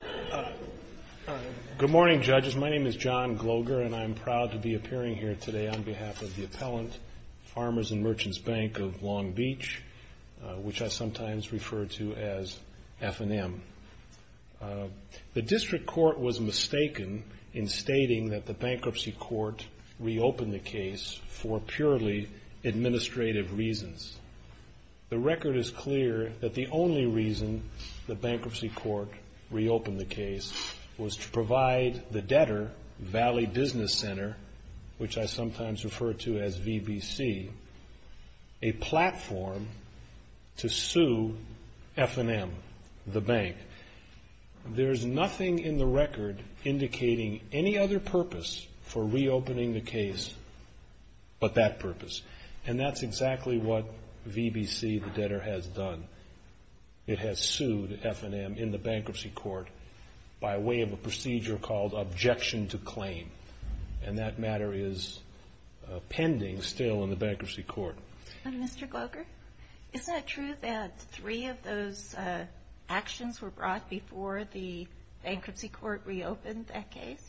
Bank of Long Beach, which I sometimes refer to as F&M. The District Court was mistaken in stating that the Bankruptcy Court reopened the case for purely administrative reasons. The record is clear that the only reason the Bankruptcy Court reopened the case was to provide the debtor, Valley Business Center, which I sometimes refer to as VBC, a platform to sue F&M, the bank. There's nothing in the record indicating any other purpose for reopening the case but that purpose, and that's exactly what VBC, the debtor, has done. It has sued F&M in the Bankruptcy Court by way of a procedure called objection to claim, and that matter is pending still in the Bankruptcy Court. And Mr. Glover, is it true that three of those actions were brought before the Bankruptcy Court reopened that case?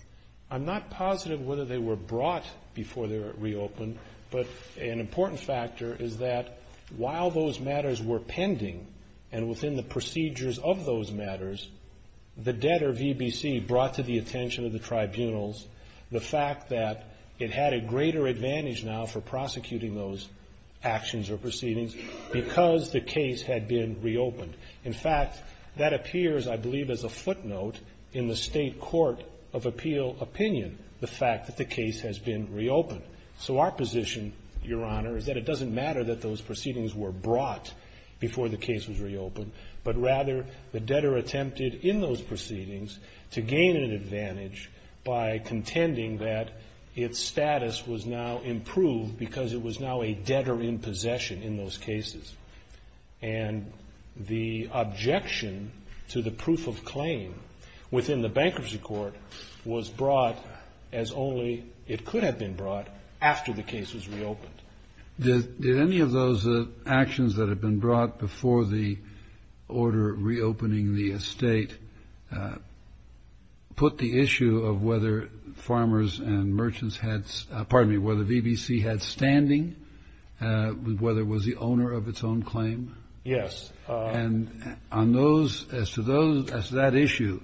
I'm not positive whether they were brought before they were reopened, but an important factor is that while those matters were pending and within the procedures of those matters, the debtor, VBC, brought to the attention of the tribunals the fact that it had a greater advantage now for prosecuting those actions or proceedings because the case had been reopened. In fact, that appears, I believe, as a footnote in the State Court of Appeal opinion, the fact that the case has been reopened. So our position, Your Honor, is that it doesn't matter that those proceedings were brought before the case was reopened, but rather the debtor attempted in those proceedings to gain an advantage by contending that its status was now improved because it was now a debtor in possession in those cases. And the objection to the proof of claim within the Bankruptcy Court was brought as only it could have been brought after the case was reopened. Did any of those actions that had been brought before the order reopening the estate put the issue of whether farmers and merchants had, pardon me, whether VBC had standing, whether it was the owner of its own claim? Yes. And on those, as to those, as to that issue,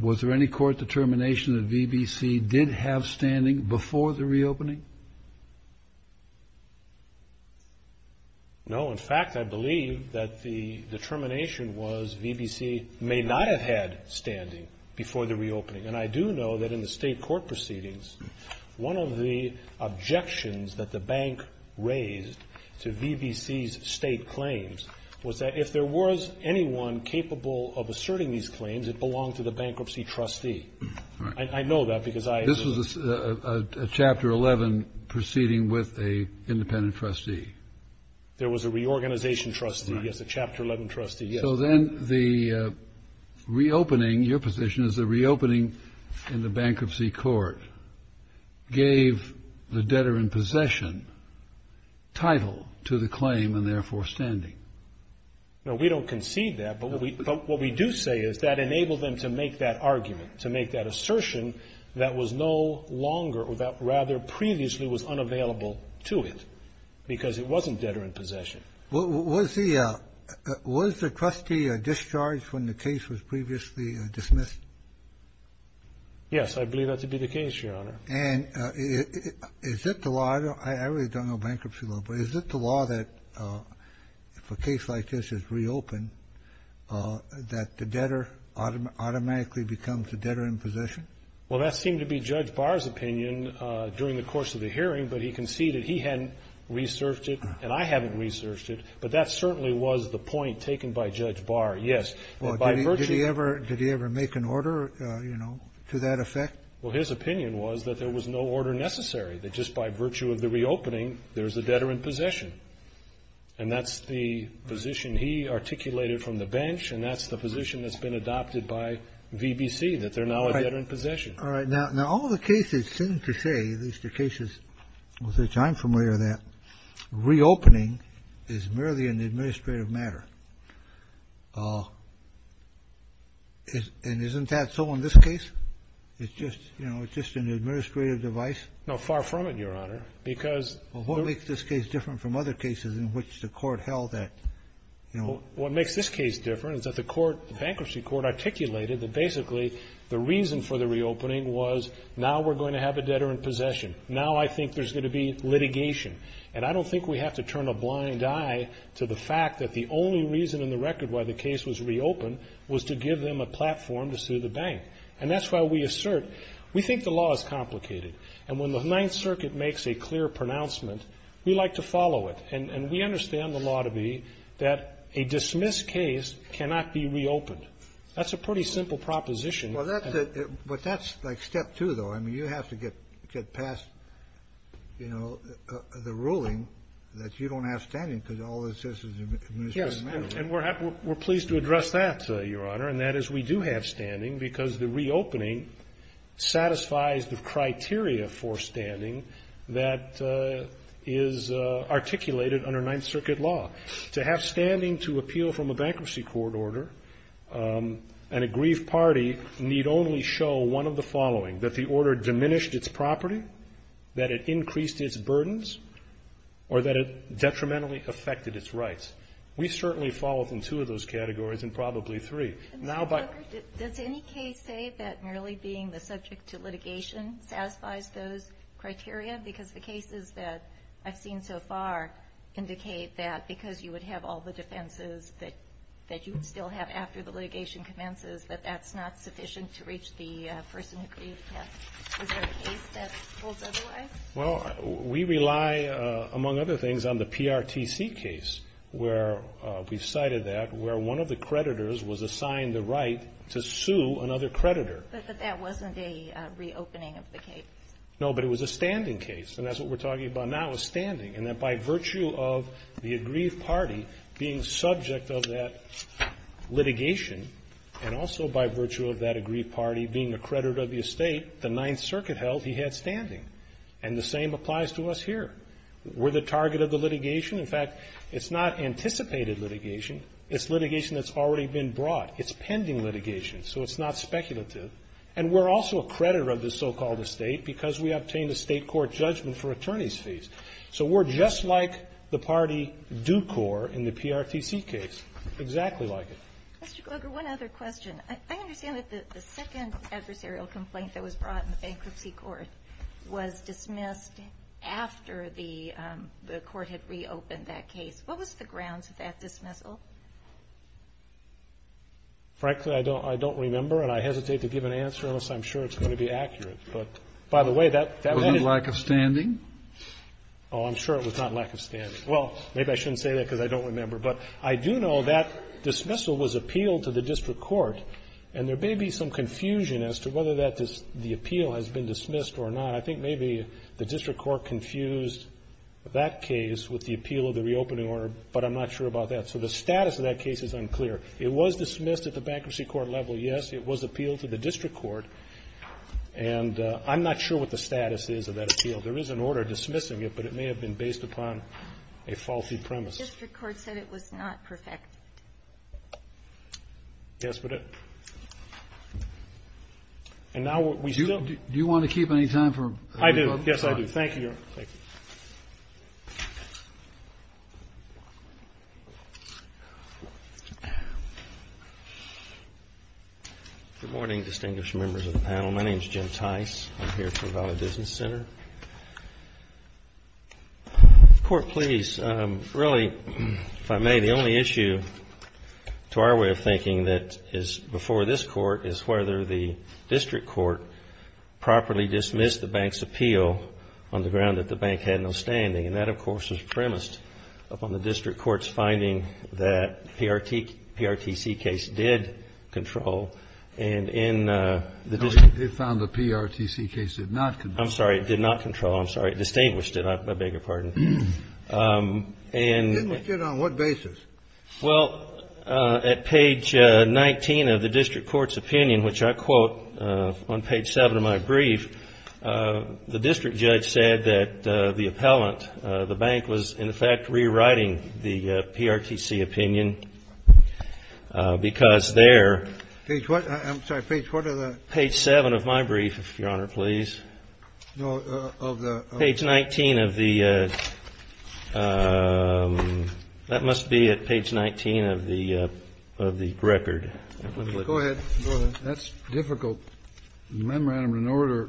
was there any court determination that VBC did have standing before the reopening? No. In fact, I believe that the determination was VBC may not have had standing before the reopening. And I do know that in the State court proceedings, one of the objections that the bank raised to VBC's state claims was that if there was anyone capable of asserting these claims, it belonged to the bankruptcy trustee. Right. I know that because I am a lawyer. This was a Chapter 11 proceeding with an independent trustee. There was a reorganization trustee. Right. Yes, a Chapter 11 trustee, yes. So then the reopening, your position is the reopening in the bankruptcy court gave the debtor in possession title to the claim and therefore standing. No, we don't concede that. But what we do say is that enabled them to make that argument, to make that assertion that was no longer or that rather previously was unavailable to it because it wasn't debtor in possession. Was the was the trustee discharged when the case was previously dismissed? Yes, I believe that to be the case, Your Honor. And is that the law? I really don't know bankruptcy law, but is it the law that if a case like this is reopened, that the debtor automatically becomes a debtor in possession? Well, that seemed to be Judge Barr's opinion during the course of the hearing, but he conceded he hadn't researched it and I haven't researched it. But that certainly was the point taken by Judge Barr, yes. Did he ever make an order, you know, to that effect? Well, his opinion was that there was no order necessary, that just by virtue of the reopening, there's a debtor in possession. And that's the position he articulated from the bench, and that's the position that's been adopted by VBC, that they're now a debtor in possession. All right. Now, all the cases seem to say, at least the cases with which I'm familiar, that reopening is merely an administrative matter. And isn't that so in this case? It's just, you know, it's just an administrative device? No, far from it, Your Honor, because the What makes this case different from other cases in which the court held that, you know? What makes this case different is that the court, the bankruptcy court, articulated that basically the reason for the reopening was, now we're going to have a debtor in possession. Now I think there's going to be litigation. And I don't think we have to turn a blind eye to the fact that the only reason in the record why the case was reopened was to give them a platform to sue the bank. And that's why we assert, we think the law is complicated. And when the Ninth Circuit makes a clear pronouncement, we like to follow it. And we understand the law to be that a dismissed case cannot be reopened. That's a pretty simple proposition. Well, that's it. But that's like step two, though. I mean, you have to get past, you know, the ruling that you don't have standing because all this is administrative. Yes. And we're pleased to address that, Your Honor. And that is we do have standing because the reopening satisfies the criteria for standing that is articulated under Ninth Circuit law. To have standing to appeal from a bankruptcy court order and a grief party need only show one of the following, that the order diminished its property, that it increased its burdens, or that it detrimentally affected its rights. We certainly fall within two of those categories and probably three. Mr. Booker, does any case say that merely being the subject to litigation satisfies those criteria? Because the cases that I've seen so far indicate that because you would have all the defenses that you still have after the litigation commences, that that's not sufficient to reach the person who grieved death. Is there a case that holds otherwise? Well, we rely, among other things, on the PRTC case where we've cited that, where one of the creditors was assigned the right to sue another creditor. But that wasn't a reopening of the case? No, but it was a standing case. And that's what we're talking about now is standing. And that by virtue of the aggrieved party being subject of that litigation, and also by virtue of that aggrieved party being a creditor of the estate, the Ninth Circuit held he had standing. And the same applies to us here. We're the target of the litigation. In fact, it's not anticipated litigation. It's litigation that's already been brought. It's pending litigation. So it's not speculative. And we're also a creditor of this so-called estate because we obtained a state court judgment for attorneys' fees. So we're just like the party Ducor in the PRTC case, exactly like it. Mr. Kroger, one other question. I understand that the second adversarial complaint that was brought in the bankruptcy court was dismissed after the court had reopened that case. What was the grounds of that dismissal? Frankly, I don't remember, and I hesitate to give an answer unless I'm sure it's going to be accurate. But, by the way, that was in the ---- Was it lack of standing? Oh, I'm sure it was not lack of standing. Well, maybe I shouldn't say that because I don't remember. But I do know that dismissal was appealed to the district court. And there may be some confusion as to whether the appeal has been dismissed or not. I think maybe the district court confused that case with the appeal of the reopening order, but I'm not sure about that. So the status of that case is unclear. It was dismissed at the bankruptcy court level, yes. It was appealed to the district court. And I'm not sure what the status is of that appeal. There is an order dismissing it, but it may have been based upon a faulty premise. The district court said it was not perfect. Yes, but it ---- And now we still ---- Do you want to keep any time for public comment? I do. Yes, I do. Thank you, Your Honor. Thank you. Good morning, distinguished members of the panel. My name is Jim Tice. I'm here from Valley Business Center. Court, please. Really, if I may, the only issue to our way of thinking that is before this Court is whether the district court properly dismissed the bank's appeal on the ground that the bank had no standing. And that, of course, was premised upon the district court's finding that the PRTC case did control. And in the district ---- No, it found the PRTC case did not control. I'm sorry. It did not control. I'm sorry. It distinguished it. I beg your pardon. And ---- Distinguished it on what basis? Well, at page 19 of the district court's opinion, which I quote on page 7 of my brief, the district judge said that the appellant, the bank, was, in effect, rewriting the PRTC opinion because there ---- Page what? I'm sorry. Page what of the ---- No, of the ---- Page 19 of the ---- That must be at page 19 of the record. Go ahead. Go ahead. That's difficult. The memorandum in order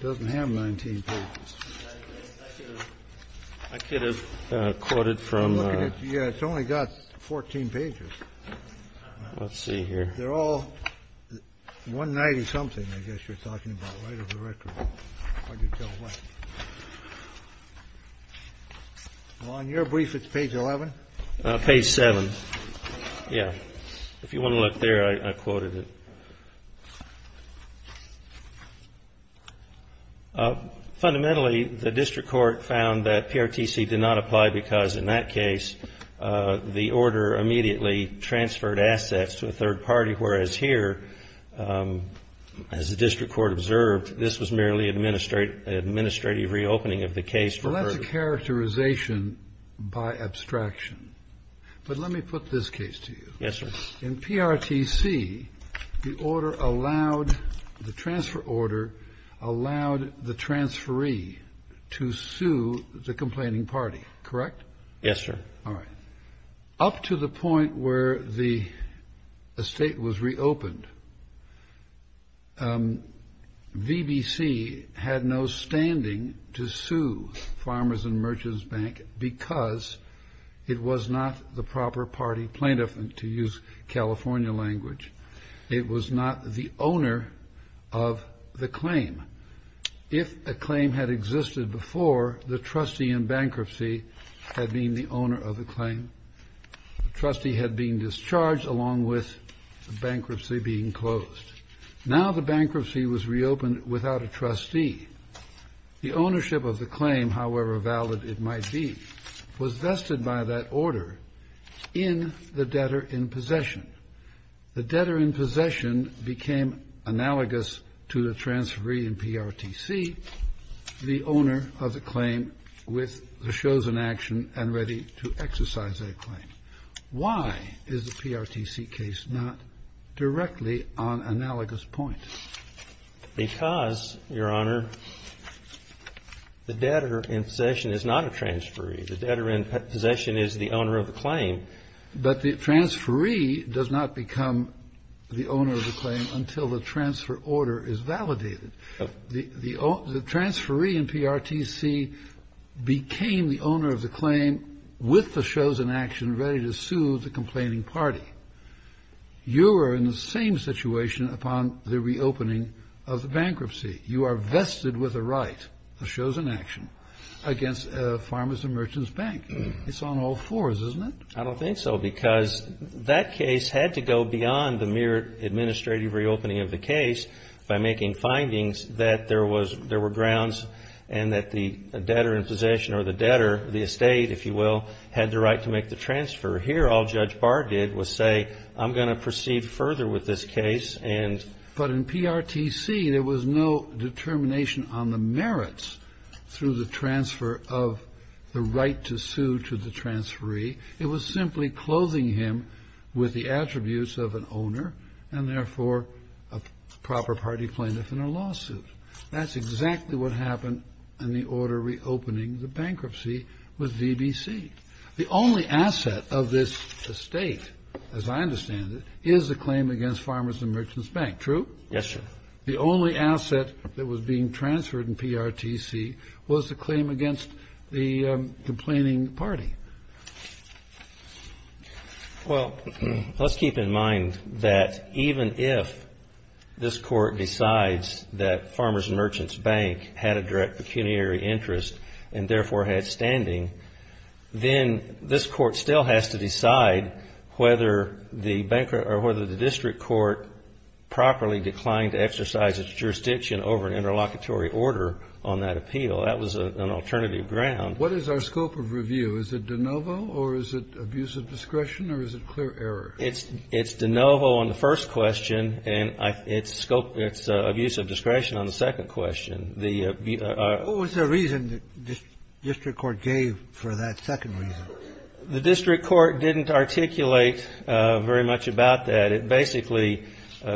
doesn't have 19 pages. I could have quoted from ---- Yeah, it's only got 14 pages. Let's see here. They're all 190-something, I guess you're talking about, right, of the record. I can't tell what. Well, on your brief, it's page 11? Page 7. Yeah. If you want to look there, I quoted it. Fundamentally, the district court found that PRTC did not apply because, in that as the district court observed, this was merely an administrative reopening of the case for ---- Well, that's a characterization by abstraction. But let me put this case to you. Yes, sir. In PRTC, the order allowed, the transfer order allowed the transferee to sue the complaining party, correct? Yes, sir. All right. Up to the point where the estate was reopened, VBC had no standing to sue Farmers and Merchants Bank because it was not the proper party plaintiff, and to use California language, it was not the owner of the claim. If a claim had existed before, the trustee in bankruptcy had been the owner of the claim. The trustee had been discharged along with the bankruptcy being closed. Now the bankruptcy was reopened without a trustee. The ownership of the claim, however valid it might be, was vested by that order in the debtor in possession. The debtor in possession became analogous to the transferee in PRTC, the owner of the claim with the chosen action and ready to exercise that claim. Why is the PRTC case not directly on analogous point? Because, Your Honor, the debtor in possession is not a transferee. The debtor in possession is the owner of the claim. But the transferee does not become the owner of the claim until the transfer order is validated. The transferee in PRTC became the owner of the claim with the chosen action ready to sue the complaining party. You are in the same situation upon the reopening of the bankruptcy. You are vested with a right, a chosen action, against Farmers and Merchants Bank. It's on all fours, isn't it? I don't think so. Because that case had to go beyond the mere administrative reopening of the case by making findings that there was, there were grounds and that the debtor in possession or the debtor, the estate, if you will, had the right to make the transfer. Here all Judge Barr did was say I'm going to proceed further with this case and. But in PRTC there was no determination on the merits through the transfer of the right to sue to the transferee. It was simply clothing him with the attributes of an owner and therefore a proper party plaintiff in a lawsuit. That's exactly what happened in the order reopening the bankruptcy with VBC. The only asset of this estate, as I understand it, is a claim against Farmers and Merchants Bank. True? Yes, sir. The only asset that was being transferred in PRTC was the claim against the complaining party. Well, let's keep in mind that even if this court decides that Farmers and Merchants Bank had a direct pecuniary interest and therefore had standing, then this court still has to decide whether the district court properly declined to exercise its jurisdiction over an interlocutory order on that appeal. That was an alternative ground. What is our scope of review? Is it de novo or is it abuse of discretion or is it clear error? It's de novo on the first question and it's abuse of discretion on the second question. What was the reason the district court gave for that second reason? The district court didn't articulate very much about that. It basically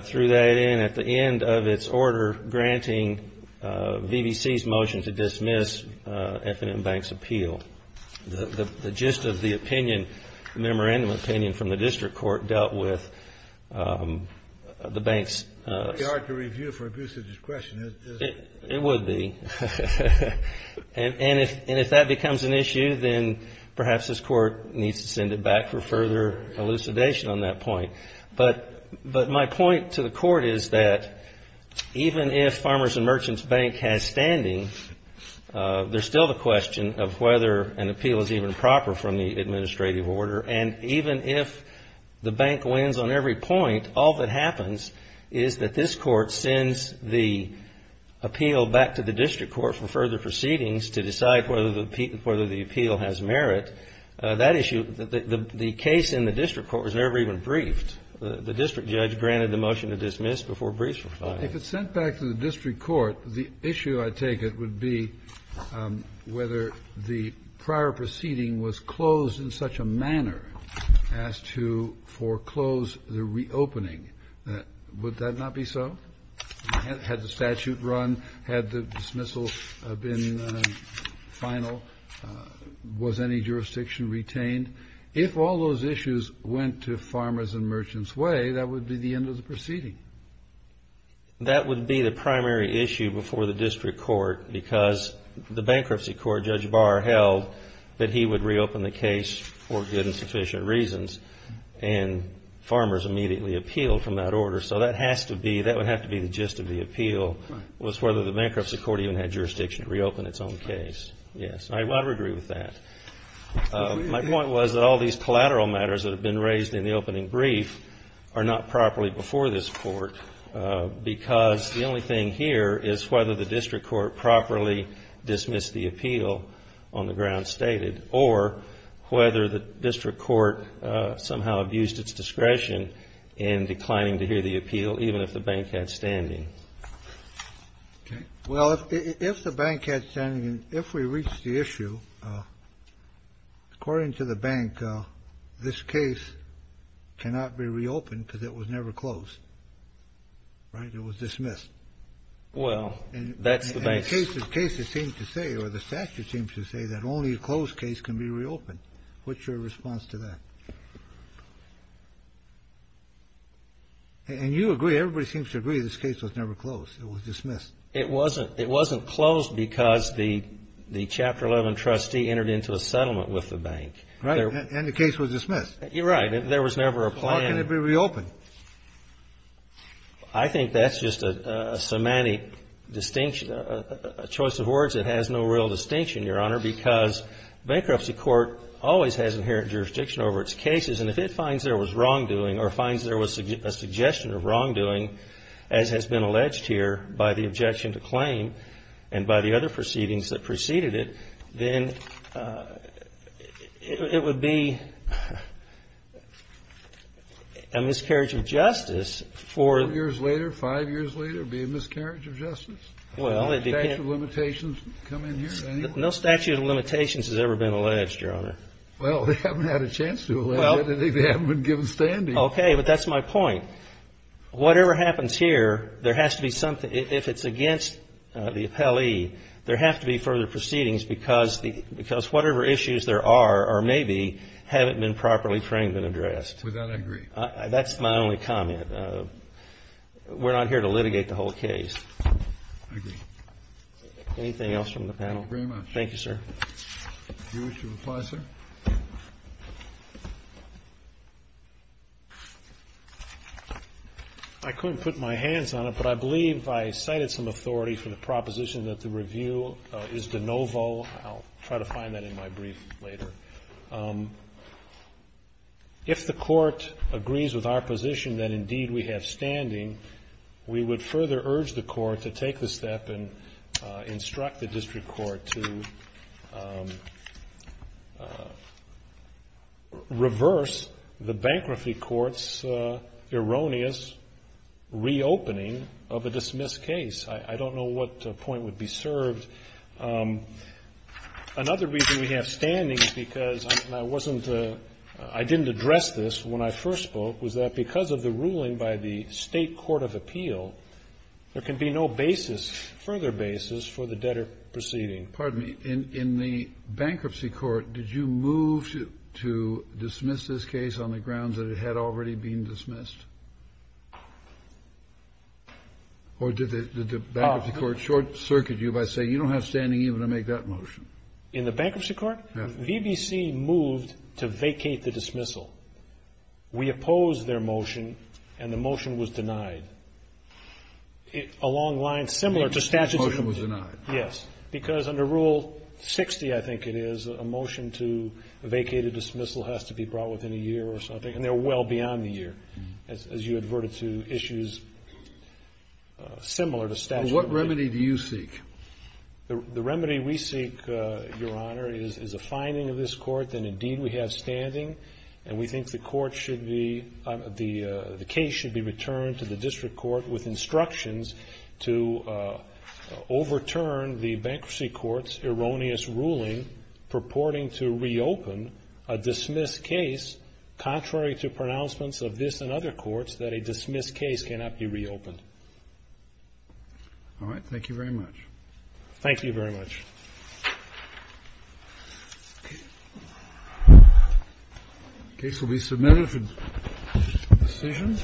threw that in at the end of its order granting VBC's motion to dismiss F&M Bank's appeal. The gist of the opinion, memorandum opinion from the district court, dealt with the bank's... It would be. And if that becomes an issue, then perhaps this court needs to send it back for further elucidation on that point. But my point to the court is that even if Farmers and Merchants Bank has standing, there's still the question of whether an appeal is even proper from the administrative order. And even if the bank wins on every point, all that happens is that this court sends the appeal back to the district court for further proceedings to decide whether the appeal has merit. That issue, the case in the district court was never even briefed. The district judge granted the motion to dismiss before briefs were filed. If it's sent back to the district court, the issue, I take it, would be whether the prior proceeding was closed in such a manner as to foreclose the reopening. Would that not be so? Had the statute run? Had the dismissal been final? Was any jurisdiction retained? If all those issues went to Farmers and Merchants way, that would be the end of the proceeding. That would be the primary issue before the district court because the bankruptcy court, Judge Barr held, that he would reopen the case for good and sufficient reasons. And Farmers immediately appealed from that order. So that would have to be the gist of the appeal was whether the bankruptcy court even had jurisdiction to reopen its own case. I would agree with that. My point was that all these collateral matters that have been raised in the opening brief are not properly before this court because the only thing here is whether the district court properly dismissed the appeal on the ground stated or whether the district court somehow abused its discretion in declining to hear the appeal even if the bank had standing. Well, if the bank had standing, if we reached the issue, according to the bank, this case cannot be reopened because it was never closed, right? It was dismissed. Well, that's the bank's. And the cases seem to say or the statute seems to say that only a closed case can be reopened. What's your response to that? And you agree, everybody seems to agree this case was never closed. It was dismissed. It wasn't closed because the Chapter 11 trustee entered into a settlement with the bank. Right. And the case was dismissed. Right. There was never a plan. How can it be reopened? I think that's just a semantic distinction, a choice of words that has no real distinction, Your Honor, because bankruptcy court always has inherent jurisdiction over its cases. And if it finds there was wrongdoing or finds there was a suggestion of wrongdoing, as has been alleged here by the objection to claim and by the other proceedings that preceded it, then it would be a miscarriage of justice for. Four years later, five years later, it would be a miscarriage of justice? Well, it depends. No statute of limitations come in here anyway? No statute of limitations has ever been alleged, Your Honor. Well, they haven't had a chance to. Well. They haven't been given standing. Okay. But that's my point. Whatever happens here, there has to be something. If it's against the appellee, there have to be further proceedings, because whatever issues there are or may be haven't been properly framed and addressed. With that, I agree. That's my only comment. We're not here to litigate the whole case. I agree. Anything else from the panel? Thank you very much. Thank you, sir. Do you wish to reply, sir? I couldn't put my hands on it, but I believe I cited some authority for the proposition that the review is de novo. I'll try to find that in my brief later. If the court agrees with our position that, indeed, we have standing, we would further urge the court to take the step and instruct the district court to reverse the bankruptcy court's erroneous reopening of a dismissed case. I don't know what point would be served. Another reason we have standing, because I didn't address this when I first spoke, was that because of the ruling by the state court of appeal, there can be no basis, further basis, for the debtor proceeding. Pardon me. In the bankruptcy court, did you move to dismiss this case on the grounds that it had already been dismissed? Or did the bankruptcy court short-circuit you by saying, you don't have standing even to make that motion? In the bankruptcy court, VBC moved to vacate the dismissal. We opposed their motion, and the motion was denied. A long line similar to statute of limitations. The motion was denied. Yes. Because under Rule 60, I think it is, a motion to vacate a dismissal has to be brought within a year or something, and they're well beyond the year, as you adverted to issues similar to statute of limitations. What remedy do you seek? The remedy we seek, Your Honor, is a finding of this court that, indeed, we have standing, and we think the court should be the case should be returned to the district court with instructions to overturn the bankruptcy court's erroneous ruling purporting to reopen a dismissed case, contrary to pronouncements of this and other courts, that a dismissed case cannot be reopened. All right. Thank you very much. Thank you very much. The case will be submitted to decision.